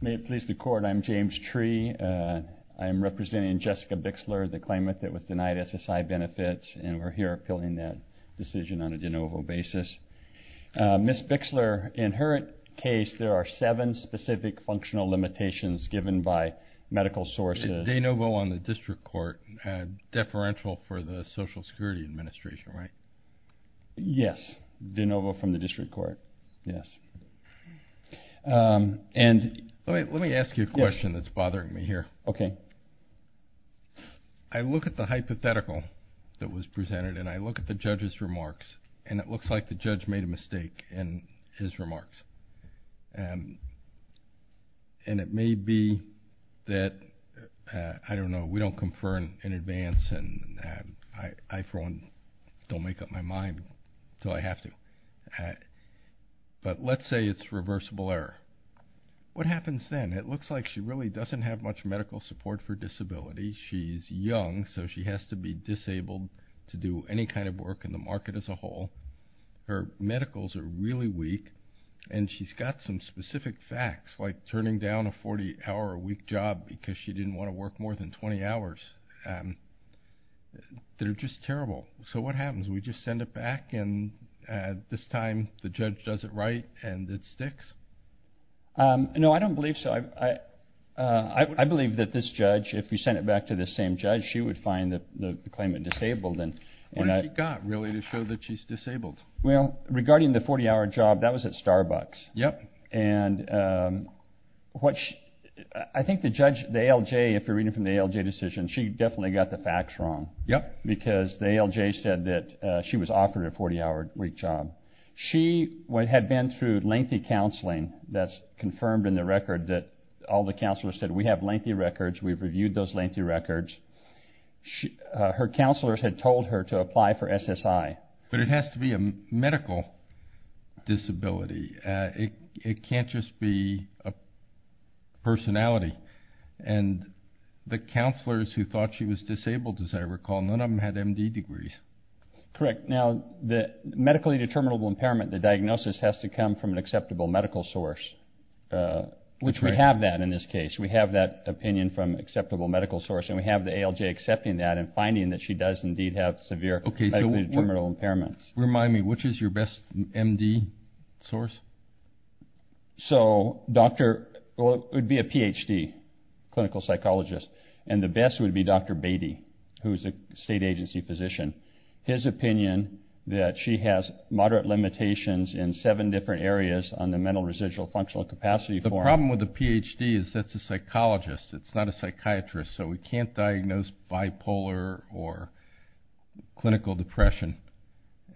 May it please the court I'm James Tree I am representing Jessica Bixler the claimant that was denied SSI benefits and we're here appealing that decision on a de novo basis. Ms. Bixler in her case there are seven specific functional limitations given by medical sources. De novo on the district court deferential for the Social Security Administration right? Yes de novo from the district court yes and let me ask you a question that's bothering me here okay I look at the hypothetical that was presented and I look at the judge's remarks and it looks like the judge made a mistake in his remarks and and it may be that I don't know we don't confer in advance and I for one don't make up my mind so I have to but let's say it's reversible error what happens then it looks like she really doesn't have much medical support for disability she's young so she has to be disabled to do any kind of work in the market as a whole her medicals are really weak and she's got some specific facts like turning down a 40 hour a week job because she didn't want to work more than 20 hours they're just terrible so what happens we just send it back and this time the judge does it right and it sticks no I don't believe so I I believe that this judge if we send it back to the same judge she would find that the claimant disabled and when I got really to show that she's disabled well regarding the 40 hour job that was at Starbucks yep and what I think the judge they LJ if you're reading from the LJ decision she definitely got the facts wrong yep because they LJ said that she was offered a 40-hour week job she what had been through lengthy counseling that's confirmed in the record that all the counselors said we have lengthy records we've reviewed those lengthy records she her counselors had told her to apply for SSI but it has to be a disability it can't just be a personality and the counselors who thought she was disabled as I recall none of them had MD degrees correct now the medically determinable impairment the diagnosis has to come from an acceptable medical source which we have that in this case we have that opinion from acceptable medical source and we have the ALJ accepting that and finding that she does indeed have severe okay so we're middle impairments remind me which is your best MD source so doctor would be a PhD clinical psychologist and the best would be dr. Beatty who's a state agency physician his opinion that she has moderate limitations in seven different areas on the mental residual functional capacity for the problem with the PhD is that's a psychologist it's not a psychiatrist so we can't diagnose bipolar or clinical depression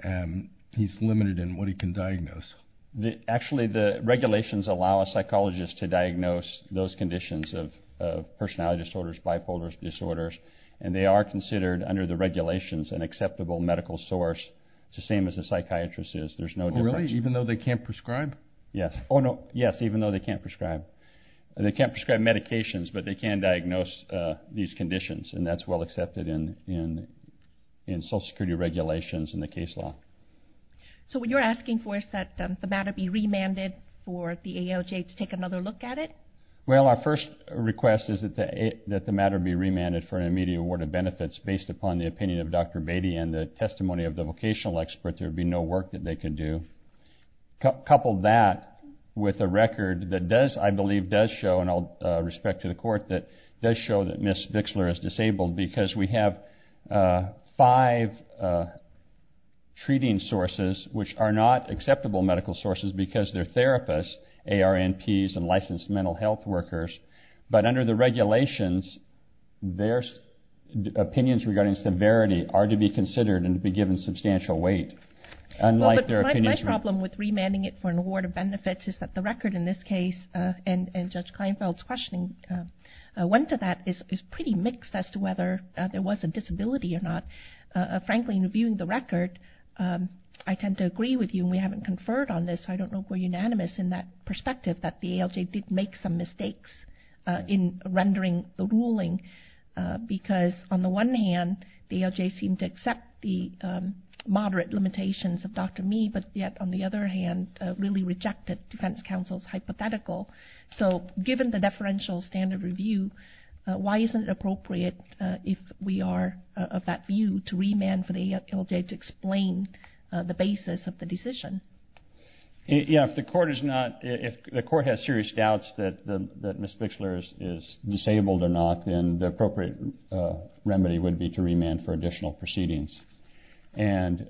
and he's limited in what he can diagnose the actually the regulations allow a psychologist to diagnose those conditions of personality disorders bipolar disorders and they are considered under the regulations and acceptable medical source it's the same as the psychiatrist is there's no really even though they can't prescribe yes oh no yes even though they can't diagnose these conditions and that's well accepted in in in social security regulations in the case law so what you're asking for is that the matter be remanded for the ALJ to take another look at it well our first request is that the a that the matter be remanded for an immediate award of benefits based upon the opinion of dr. Beatty and the testimony of the vocational expert there'd be no work that they could do couple that with a record that does I show that miss Vixler is disabled because we have five treating sources which are not acceptable medical sources because they're therapists AR NPS and licensed mental health workers but under the regulations there's opinions regarding severity are to be considered and be given substantial weight unlike their problem with remanding it for an award of benefits is that the record in this case and and judge Kleinfeld's questioning went to that is pretty mixed as to whether there was a disability or not frankly in reviewing the record I tend to agree with you we haven't conferred on this I don't know for unanimous in that perspective that the ALJ did make some mistakes in rendering the ruling because on the one hand the ALJ seemed to accept the moderate limitations of dr. me but yet on the other hand really rejected defense counsel's hypothetical so given the deferential standard review why isn't it appropriate if we are of that view to remand for the ALJ to explain the basis of the decision yeah if the court is not if the court has serious doubts that miss Vixler is disabled or not then the appropriate remedy would be to remand for additional proceedings and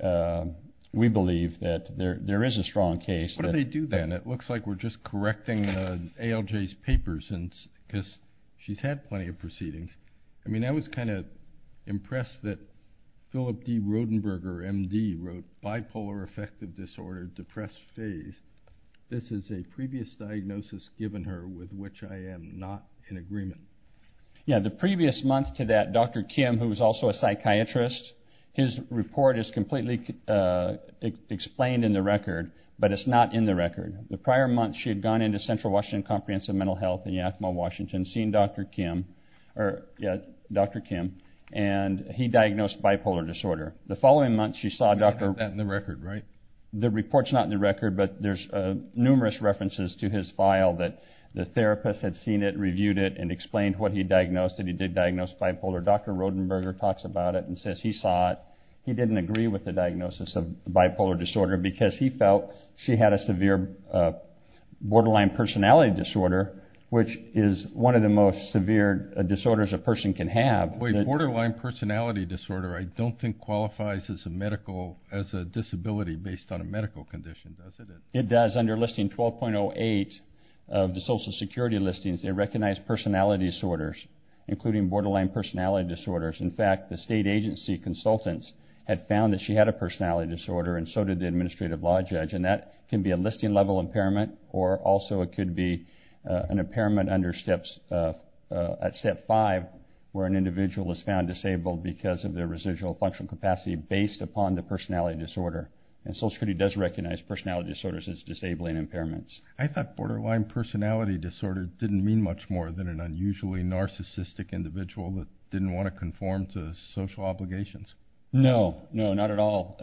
we believe that there there is a strong case what do they do then it looks like we're just correcting the ALJ's papers and because she's had plenty of proceedings I mean I was kind of impressed that Philip D Rodenberger MD wrote bipolar affective disorder depressed phase this is a previous diagnosis given her with which I am not in agreement yeah the previous month to that dr. Kim who was also a psychiatrist his report is completely explained in the record but it's not in the record the prior month she had gone into Central Washington comprehensive mental health in Yakima Washington seen dr. Kim or yeah dr. Kim and he diagnosed bipolar disorder the following month she saw doctor that in the record right the reports not in the record but there's numerous references to his file that the therapist had seen it reviewed it and explained what he diagnosed that he did diagnosed bipolar dr. Rodenberger talks about it and says he saw it he didn't agree with the diagnosis of bipolar disorder because he felt she had a severe borderline personality disorder which is one of the most severe disorders a person can have a borderline personality disorder I don't think qualifies as a medical as a disability based on a medical condition does it it does under listing 12.08 of the Social Security listings they recognize personality disorders including borderline personality disorders in fact the state agency consultants had found that she had a personality disorder and so did the administrative law judge and that can be a listing level impairment or also it could be an impairment under steps at step 5 where an individual is found disabled because of their residual functional capacity based upon the personality disorder and Social Security does recognize personality disorders as disabling impairments I thought borderline personality disorder didn't mean much more than an unusually narcissistic individual that didn't want to conform to social obligations no no not at all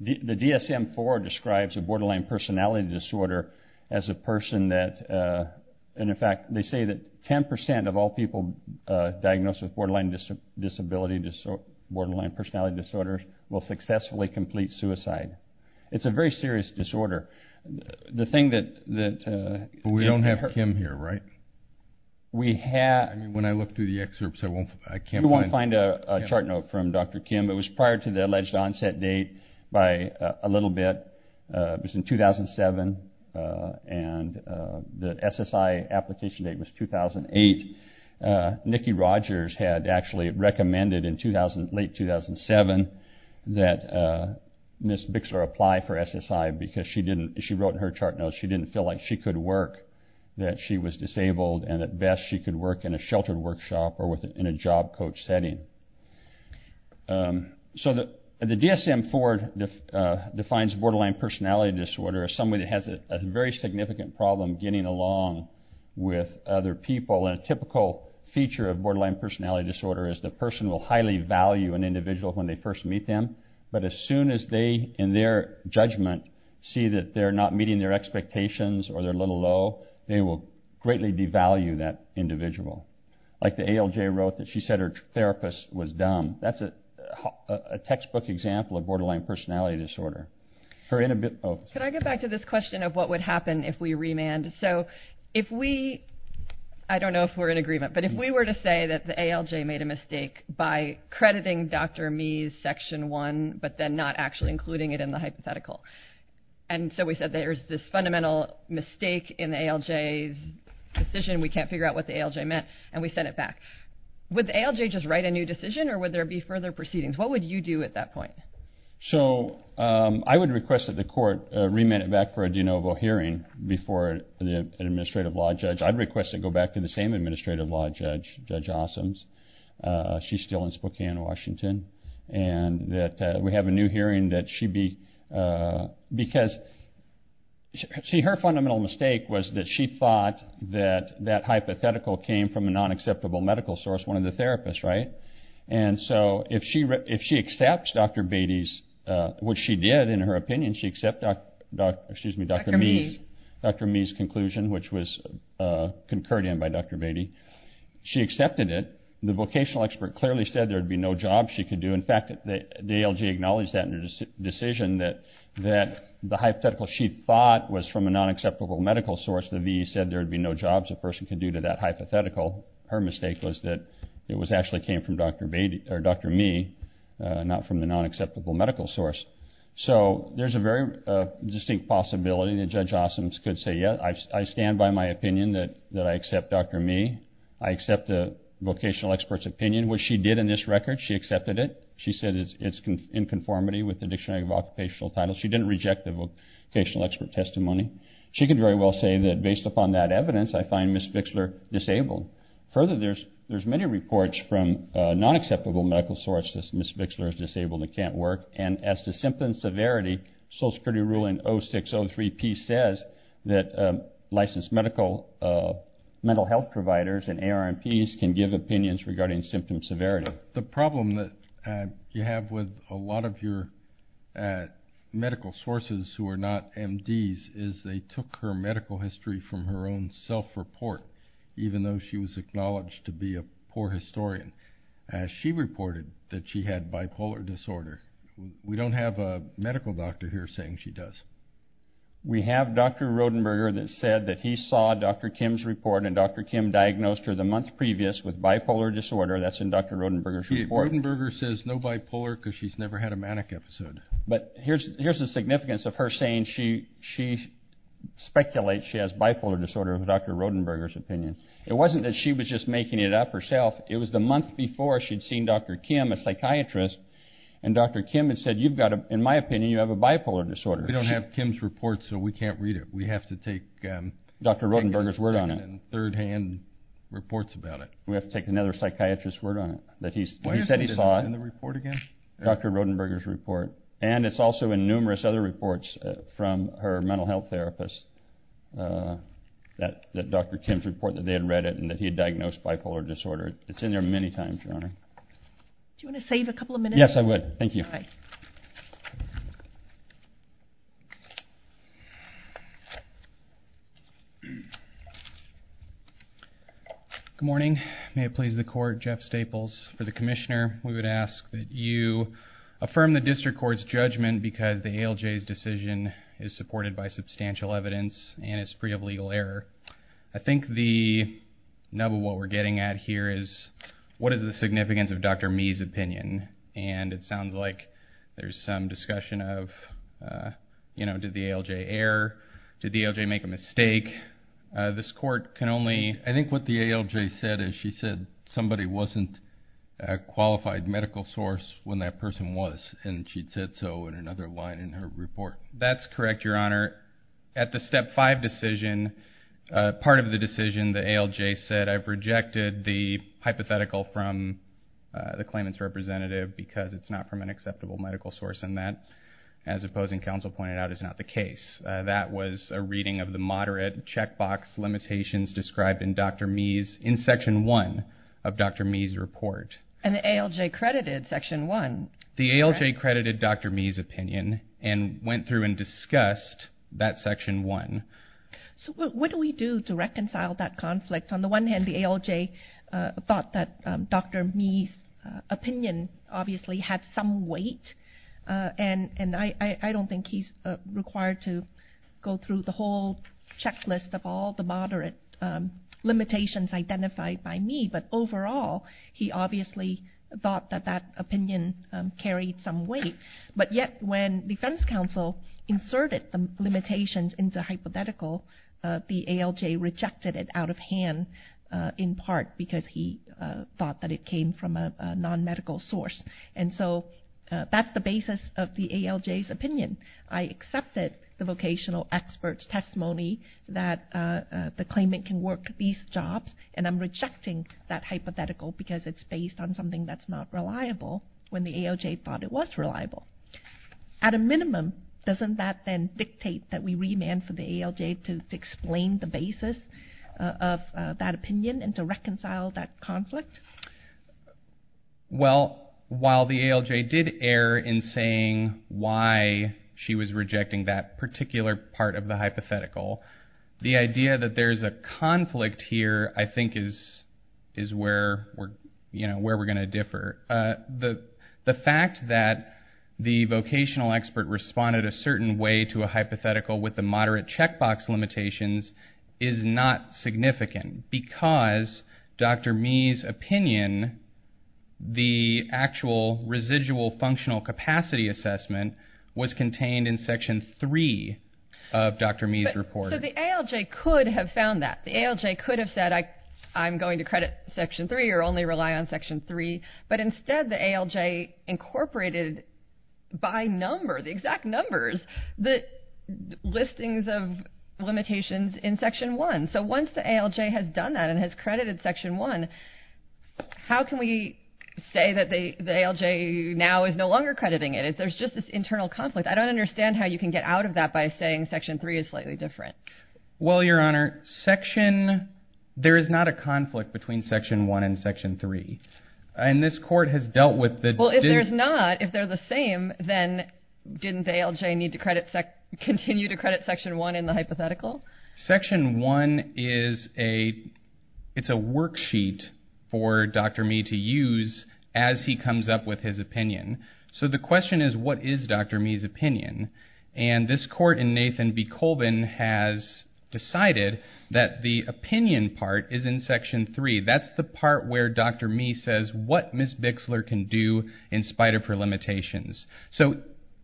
the DSM for describes a borderline personality disorder as a person that and in fact they say that 10% of all people diagnosed with borderline disability disorder borderline personality disorders will successfully complete suicide it's a very serious disorder the thing that we don't have him here right we have when I look through the excerpts I won't I can't find a chart note from dr. Kim it was prior to the alleged onset date by a little bit was in 2007 and the SSI application date was 2008 Nikki Rogers had actually recommended in 2000 late 2007 that miss Bixler apply for SSI because she didn't she wrote in her chart no she didn't feel like she could work that she was disabled and at best she could work in a sheltered workshop or within a job coach setting so that the DSM Ford defines borderline personality disorder as somebody that has a very significant problem getting along with other people and a typical feature of borderline personality disorder is the person will highly value an individual when they first meet them but as soon as they in their judgment see that they're not meeting their expectations or they're a little low they will greatly devalue that individual like the ALJ wrote that she said her therapist was dumb that's a textbook example of borderline personality disorder her in a bit can I if we I don't know if we're in agreement but if we were to say that the ALJ made a mistake by crediting dr. me's section one but then not actually including it in the hypothetical and so we said there's this fundamental mistake in the ALJ's decision we can't figure out what the ALJ meant and we sent it back with ALJ just write a new decision or would there be further proceedings what would you do at that point so I would request that the court remit it back for a administrative law judge I'd request to go back to the same administrative law judge judge awesomes she's still in Spokane Washington and that we have a new hearing that she be because see her fundamental mistake was that she thought that that hypothetical came from a non acceptable medical source one of the therapists right and so if she if she accepts dr. Beatty's what she did in her opinion she except excuse me dr. me's dr. me's conclusion which was concurred in by dr. Beatty she accepted it the vocational expert clearly said there'd be no job she could do in fact that the ALJ acknowledged that in her decision that that the hypothetical she thought was from a non acceptable medical source the V said there'd be no jobs a person could do to that hypothetical her mistake was that it was actually came from dr. Beatty or dr. me not from the unacceptable medical source so there's a very distinct possibility that judge awesomes could say yeah I stand by my opinion that that I accept dr. me I accept the vocational experts opinion which she did in this record she accepted it she said it's in conformity with the dictionary of occupational titles she didn't reject the vocational expert testimony she could very well say that based upon that evidence I find miss Fixler disabled further there's there's many reports from non acceptable medical source this miss Fixler is disabled it can't work and as to symptom severity Social Security ruling oh 603 P says that licensed medical mental health providers and ARNPs can give opinions regarding symptom severity the problem that you have with a lot of your medical sources who are not MDs is they took her medical history from her own self-report even though she was acknowledged to be a poor as she reported that she had bipolar disorder we don't have a medical doctor here saying she does we have dr. Rodenberger that said that he saw dr. Kim's report and dr. Kim diagnosed her the month previous with bipolar disorder that's in dr. Rodenberger's report and burger says no bipolar because she's never had a manic episode but here's here's the significance of her saying she she speculates she has bipolar disorder with dr. Rodenberger's opinion it wasn't that she was just making it up herself it was the month before she'd seen dr. Kim a psychiatrist and dr. Kim had said you've got a in my opinion you have a bipolar disorder you don't have Kim's reports so we can't read it we have to take dr. Rodenberger's word on it and third-hand reports about it we have to take another psychiatrist word on it that he said he saw in the report again dr. Rodenberger's report and it's also in numerous other reports from her health therapist that that dr. Kim's report that they had read it and that he had diagnosed bipolar disorder it's in there many times your honor yes I would thank you good morning may it please the court Jeff Staples for the Commissioner we would ask that you affirm the district courts judgment because the ALJ's supported by substantial evidence and it's free of legal error I think the nub of what we're getting at here is what is the significance of dr. Mee's opinion and it sounds like there's some discussion of you know did the ALJ error did the ALJ make a mistake this court can only I think what the ALJ said is she said somebody wasn't a qualified medical source when that person was and she'd said so in another line in her report that's correct your honor at the step five decision part of the decision the ALJ said I've rejected the hypothetical from the claimants representative because it's not from an acceptable medical source and that as opposing counsel pointed out is not the case that was a reading of the moderate checkbox limitations described in dr. Mee's in section 1 of dr. Mee's report and the ALJ credited section 1 the ALJ credited dr. Mee's opinion and went through and discussed that section 1 so what do we do to reconcile that conflict on the one hand the ALJ thought that dr. Mee's opinion obviously had some weight and and I I don't think he's required to go through the whole checklist of all the moderate limitations identified by me but overall he obviously thought that that opinion carried some weight but yet when defense counsel inserted the limitations into hypothetical the ALJ rejected it out of hand in part because he thought that it came from a non-medical source and so that's the basis of the ALJ's opinion I accepted the vocational experts testimony that the claimant can work these jobs and I'm rejecting that hypothetical because it's based on something that's not reliable when the ALJ thought it was reliable at a minimum doesn't that then dictate that we remand for the ALJ to explain the basis of that opinion and to reconcile that conflict well while the ALJ did err in saying why she was rejecting that particular part of the hypothetical the idea that there's a conflict here I think is is where we're you know where we're going to differ the the fact that the vocational expert responded a certain way to a hypothetical with the moderate checkbox limitations is not significant because dr. Mee's opinion the actual residual functional capacity assessment was contained in section 3 of dr. Mee's report the ALJ could have found that the ALJ could have said I I'm going to credit section 3 or only rely on section 3 but instead the ALJ incorporated by number the exact numbers the listings of limitations in section 1 so once the ALJ has done that and has credited section 1 how can we say that they the ALJ now is no longer crediting it if there's just this internal conflict I don't understand how you can get out of that by saying section 3 is slightly different well your honor section there is not a conflict between section 1 and section 3 and this court has dealt with that well if there's not if they're the same then didn't ALJ need to credit SEC continue to credit section 1 in the hypothetical section 1 is a it's a worksheet for dr. me to use as he comes up with his opinion so the question is what is dr. Mee's opinion and this court in Nathan B Colvin has decided that the opinion part is in section 3 that's the part where dr. me says what miss Bixler can do in spite of her limitations so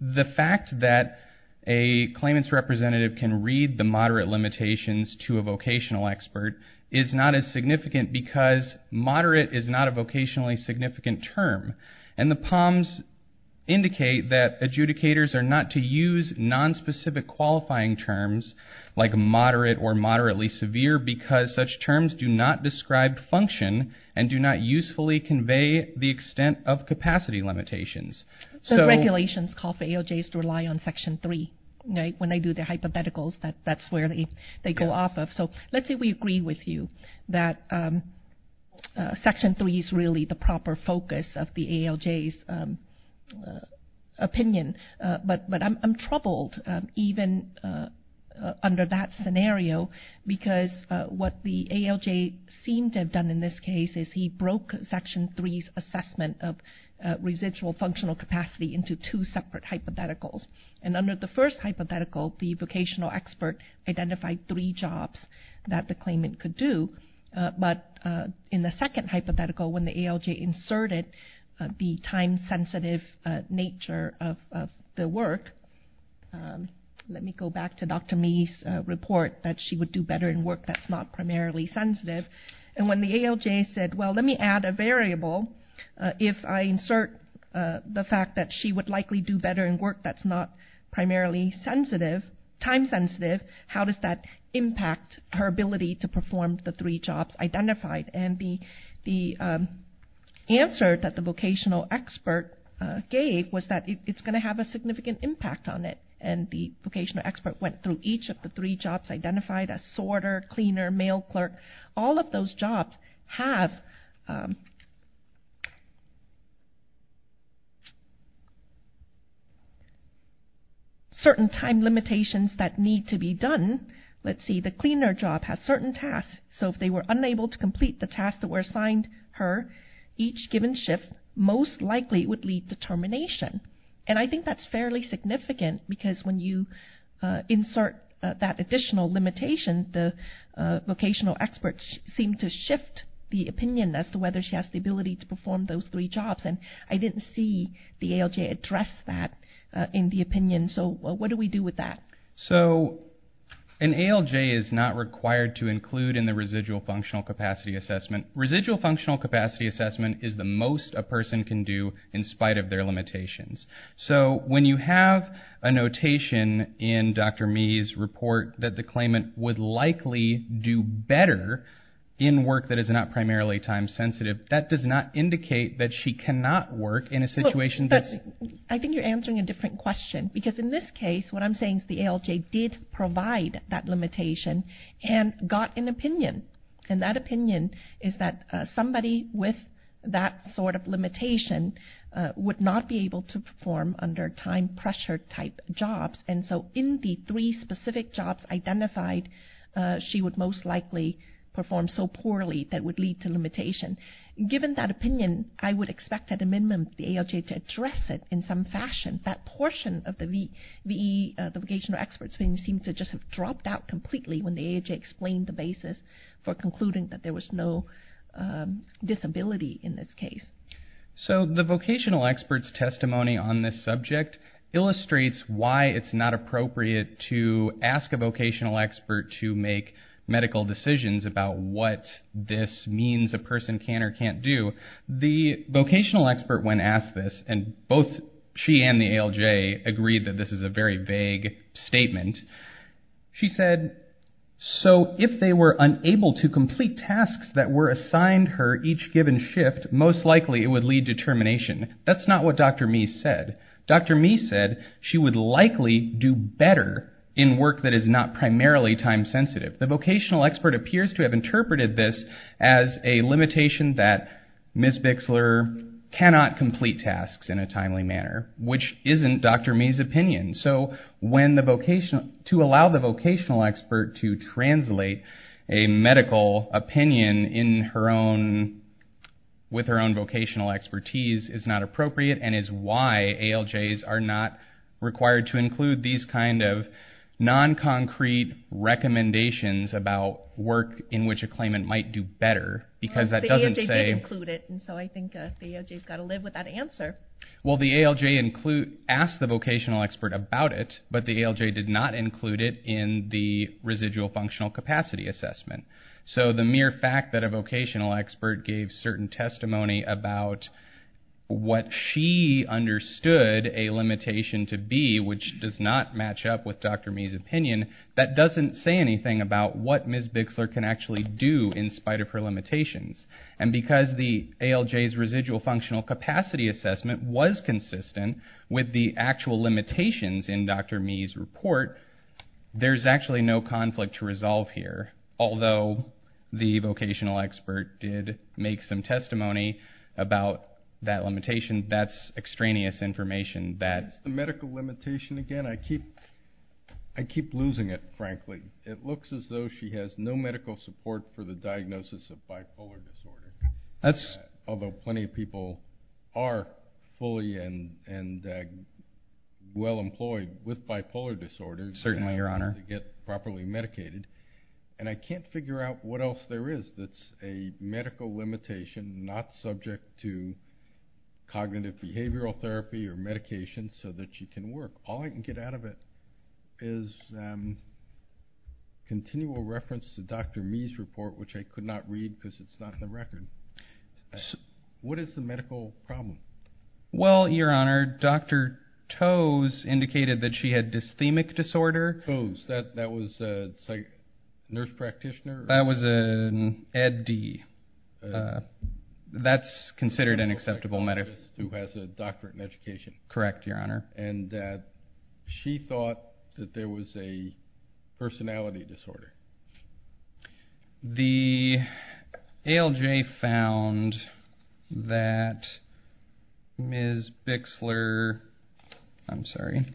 the fact that a claimants representative can read the moderate limitations to a vocational expert is not as significant because moderate is not a vocationally significant term and the palms indicate that adjudicators are not to use non-specific qualifying terms like moderate or moderately severe because such terms do not describe function and do not usefully convey the extent of capacity limitations so regulations call for ALJs to rely on section 3 right when they do their hypotheticals that that's where they they go off of so let's say we agree with you that section 3 is really the proper focus of the ALJs opinion but but I'm troubled even under that scenario because what the ALJ seem to have done in this case is he broke section 3s assessment of residual functional capacity into two separate hypotheticals and under the first hypothetical the vocational expert identified three jobs that the claimant could do but in the second hypothetical when the ALJ inserted the time-sensitive nature of the work let me go back to Dr. Mee's report that she would do better in work that's not primarily sensitive and when the ALJ said well let me add a variable if I insert the fact that she would likely do better in work that's not primarily sensitive time-sensitive how does that impact her ability to perform the three jobs identified and the the answer that the vocational expert gave was that it's going to have a significant impact on it and the vocational expert went through each of the three jobs identified a sorter cleaner mail clerk all of those jobs have certain time limitations that need to be done let's see the cleaner job has certain tasks so if they were unable to complete the tasks that were assigned her each given shift most likely would lead to termination and I think that's fairly significant because when you insert that additional limitation the vocational experts seem to shift the opinion as to whether she has the ability to perform those three jobs and I didn't see the ALJ address that in the opinion so what do we do with that so an ALJ is not required to include in the capacity assessment is the most a person can do in spite of their limitations so when you have a notation in dr. me's report that the claimant would likely do better in work that is not primarily time-sensitive that does not indicate that she cannot work in a situation that's I think you're answering a different question because in this case what I'm saying is the ALJ did provide that limitation and got an opinion and that opinion is that somebody with that sort of limitation would not be able to perform under time pressure type jobs and so in the three specific jobs identified she would most likely perform so poorly that would lead to limitation given that opinion I would expect at a minimum the ALJ to address it in some fashion that portion of the the vocational experts being seem to just have dropped out completely when the AJ explained the basis for concluding that there was no disability in this case so the vocational experts testimony on this subject illustrates why it's not appropriate to ask a vocational expert to make medical decisions about what this means a person can or can't do the vocational expert when asked this and both she and the ALJ agreed that this is a very vague statement she said so if they were unable to complete tasks that were assigned her each given shift most likely it would lead to termination that's not what dr. me said dr. me said she would likely do better in work that is not primarily time-sensitive the vocational expert appears to have complete tasks in a timely manner which isn't dr. me's opinion so when the vocational to allow the vocational expert to translate a medical opinion in her own with her own vocational expertise is not appropriate and is why ALJ's are not required to include these kind of non-concrete recommendations about work in which a claimant might do better because that doesn't say include well the ALJ include asked the vocational expert about it but the ALJ did not include it in the residual functional capacity assessment so the mere fact that a vocational expert gave certain testimony about what she understood a limitation to be which does not match up with dr. me's opinion that doesn't say anything about what ms. Bixler can actually do in spite of her and because the ALJ's residual functional capacity assessment was consistent with the actual limitations in dr. me's report there's actually no conflict to resolve here although the vocational expert did make some testimony about that limitation that's extraneous information that the medical limitation again I keep I keep losing it frankly it looks as though she has no that's although plenty of people are fully and and well employed with bipolar disorder certainly your honor get properly medicated and I can't figure out what else there is that's a medical limitation not subject to cognitive behavioral therapy or medication so that she can work all I can get out of it is continual reference to dr. me's report which I could not read because it's not in the record what is the medical problem well your honor dr. toes indicated that she had dysthemic disorder who's that that was a nurse practitioner that was an eddie that's considered an acceptable matter who has a doctorate in education correct your honor and that she thought that there was a personality disorder the ALJ found that ms. Bixler I'm sorry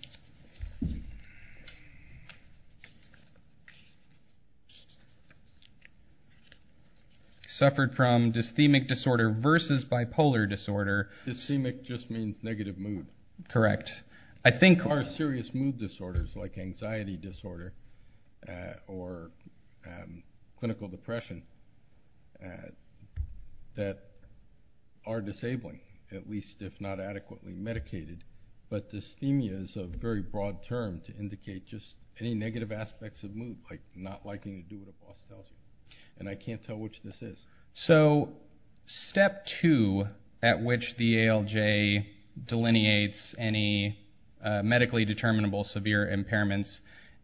suffered from dysthemic disorder versus bipolar disorder systemic just means correct I think our serious mood disorders like anxiety disorder or clinical depression that are disabling at least if not adequately medicated but dysthemia is a very broad term to indicate just any negative aspects of mood like not liking and I can't tell which this is so step two at which the delineates any medically determinable severe impairments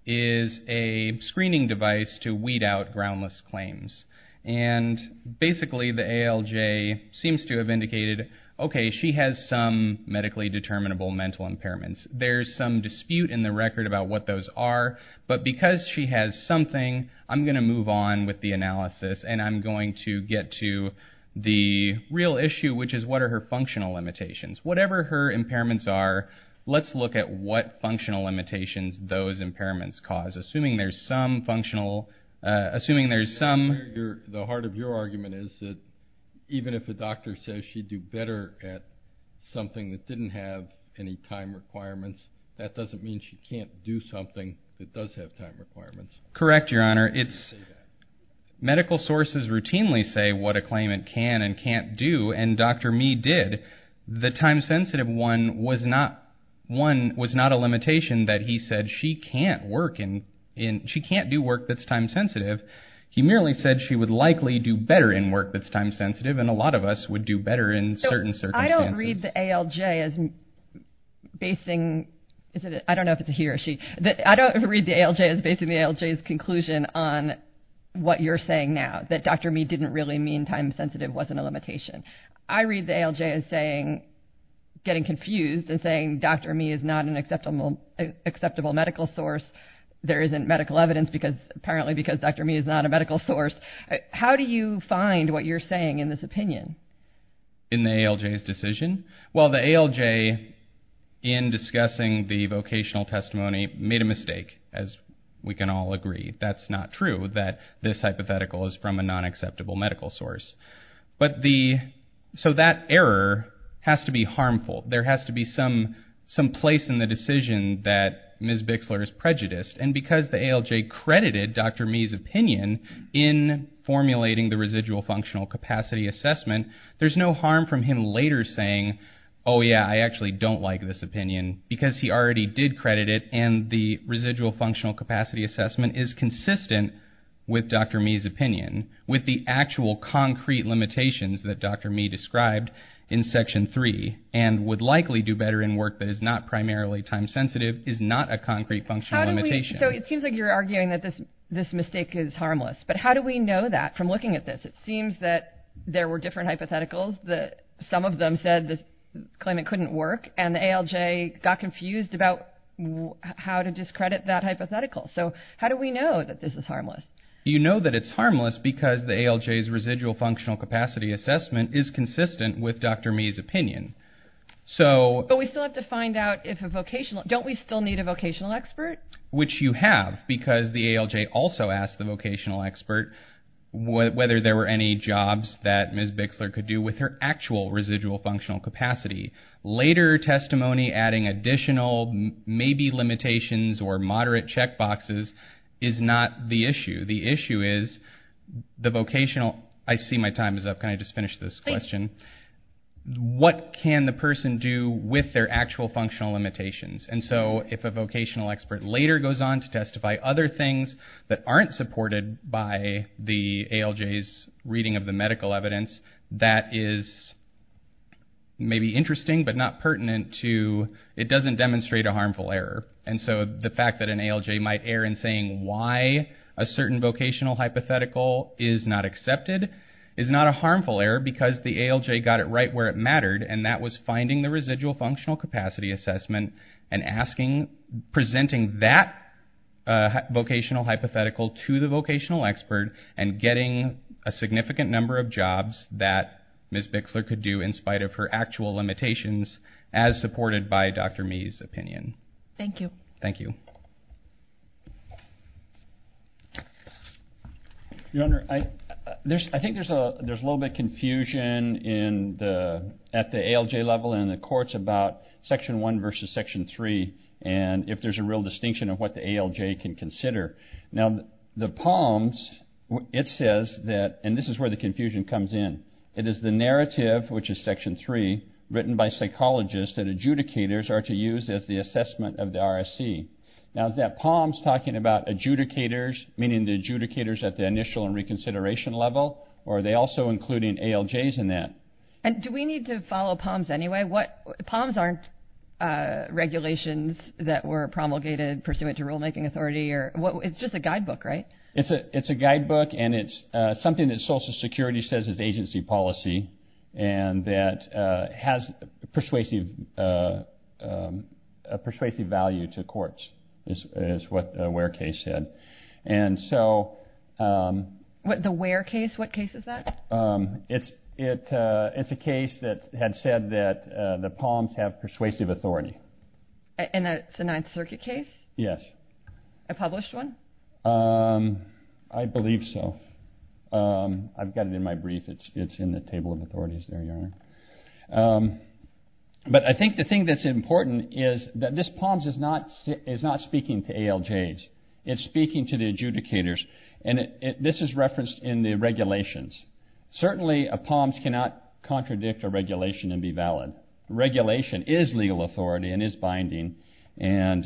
is a screening device to weed out groundless claims and basically the ALJ seems to have indicated okay she has some medically determinable mental impairments there's some dispute in the record about what those are but because she has something I'm gonna move on with the analysis and I'm going to get to the real issue which is what are her functional limitations whatever her impairments are let's look at what functional limitations those impairments cause assuming there's some functional assuming there's some the heart of your argument is that even if the doctor says she'd do better at something that didn't have any time requirements that doesn't mean she can't do something that does have time requirements correct your honor it's medical sources routinely say what a did the time sensitive one was not one was not a limitation that he said she can't work in in she can't do work that's time sensitive he merely said she would likely do better in work that's time sensitive and a lot of us would do better in certain I don't read the ALJ as basing is it I don't know if it's a he or she that I don't read the ALJ as basing the ALJ's conclusion on what you're saying now that dr. me didn't really mean time sensitive wasn't a ALJ is saying getting confused and saying dr. me is not an acceptable acceptable medical source there isn't medical evidence because apparently because dr. me is not a medical source how do you find what you're saying in this opinion in the ALJ's decision well the ALJ in discussing the vocational testimony made a mistake as we can all agree that's not true that this error has to be harmful there has to be some some place in the decision that ms. Bixler is prejudiced and because the ALJ credited dr. me his opinion in formulating the residual functional capacity assessment there's no harm from him later saying oh yeah I actually don't like this opinion because he already did credit it and the residual functional capacity assessment is consistent with dr. me his opinion with the actual concrete limitations that dr. me described in section 3 and would likely do better in work that is not primarily time sensitive is not a concrete function limitation so it seems like you're arguing that this this mistake is harmless but how do we know that from looking at this it seems that there were different hypotheticals that some of them said the claimant couldn't work and the ALJ got confused about how to discredit that hypothetical so how do we know that this is harmless you know that it's harmless because the ALJ's residual functional capacity assessment is consistent with dr. me his opinion so but we still have to find out if a vocational don't we still need a vocational expert which you have because the ALJ also asked the vocational expert whether there were any jobs that ms. Bixler could do with her actual residual functional capacity later testimony adding additional maybe limitations or moderate checkboxes is not the issue the vocational I see my time is up can I just finish this question what can the person do with their actual functional limitations and so if a vocational expert later goes on to testify other things that aren't supported by the ALJ is reading of the medical evidence that is maybe interesting but not pertinent to it doesn't demonstrate a harmful error and so the fact that an ALJ might err in saying why a certain vocational hypothetical is not accepted is not a harmful error because the ALJ got it right where it mattered and that was finding the residual functional capacity assessment and asking presenting that vocational hypothetical to the vocational expert and getting a significant number of jobs that ms. Bixler could do in spite of her actual limitations as supported by dr. me's opinion thank you thank you your honor I there's I think there's a there's a little bit confusion in the at the ALJ level in the courts about section 1 versus section 3 and if there's a real distinction of what the ALJ can consider now the palms it says that and this is where the confusion comes in it is the narrative which is section 3 written by psychologists that adjudicators are to use as the assessment of the RSC now is that palms talking about adjudicators meaning the adjudicators at the initial and reconsideration level or are they also including ALJs in that and do we need to follow palms anyway what palms aren't regulations that were promulgated pursuant to rulemaking authority or what it's just a guidebook right it's a it's guidebook and it's something that Social Security says is agency policy and that has persuasive persuasive value to courts is what where case said and so what the where case what case is that it's it it's a case that had said that the palms have persuasive authority and it's a Ninth Circuit case yes I published one I believe so I've got it in my brief it's it's in the table of authorities there young but I think the thing that's important is that this palms is not is not speaking to ALJs it's speaking to the adjudicators and this is referenced in the regulations certainly a palms cannot contradict a regulation and be valid regulation is legal authority and is binding and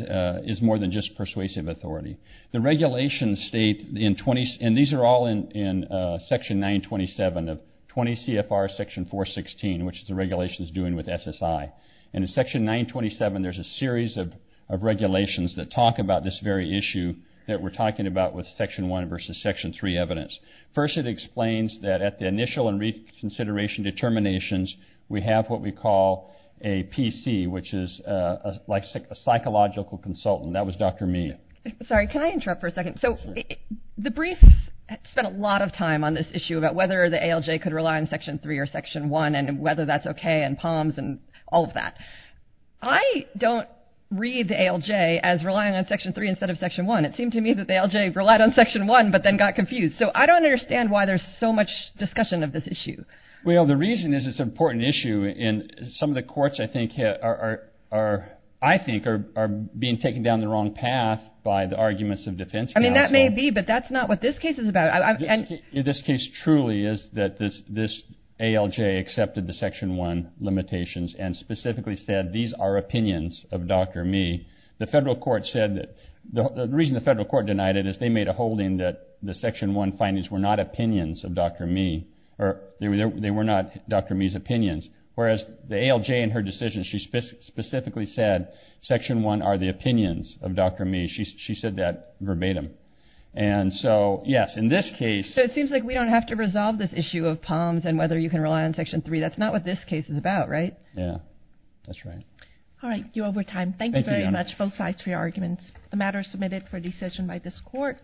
is more than just persuasive authority the regulations state in 20s and these are all in in section 927 of 20 CFR section 416 which the regulation is doing with SSI and in section 927 there's a series of regulations that talk about this very issue that we're talking about with section 1 versus section 3 evidence first it explains that at the initial and reconsideration determinations we have what we call a PC which is like a psychological consultant that was dr. me sorry can I interrupt for a second so the brief spent a lot of time on this issue about whether the ALJ could rely on section 3 or section 1 and whether that's okay and palms and all of that I don't read the ALJ as relying on section 3 instead of section 1 it seemed to me that the ALJ relied on section 1 but then got confused so I don't understand why there's so much discussion of this issue well the reason is it's an important issue in some of the courts I think are I think are being taken down the wrong path by the arguments of defense I mean that may be but that's not what this case is about in this case truly is that this this ALJ accepted the section 1 limitations and specifically said these are opinions of dr. me the federal court said that the reason the federal court denied it is they made a holding that the section 1 findings were not opinions of dr. me or they were not dr. me's opinions whereas the ALJ in her decision she specifically said section 1 are the opinions of dr. me she said that verbatim and so yes in this case so it seems like we don't have to resolve this issue of palms and whether you can rely on section 3 that's not what this case is about right yeah that's right all right you over time thank you very much both sides for your arguments the matter is submitted for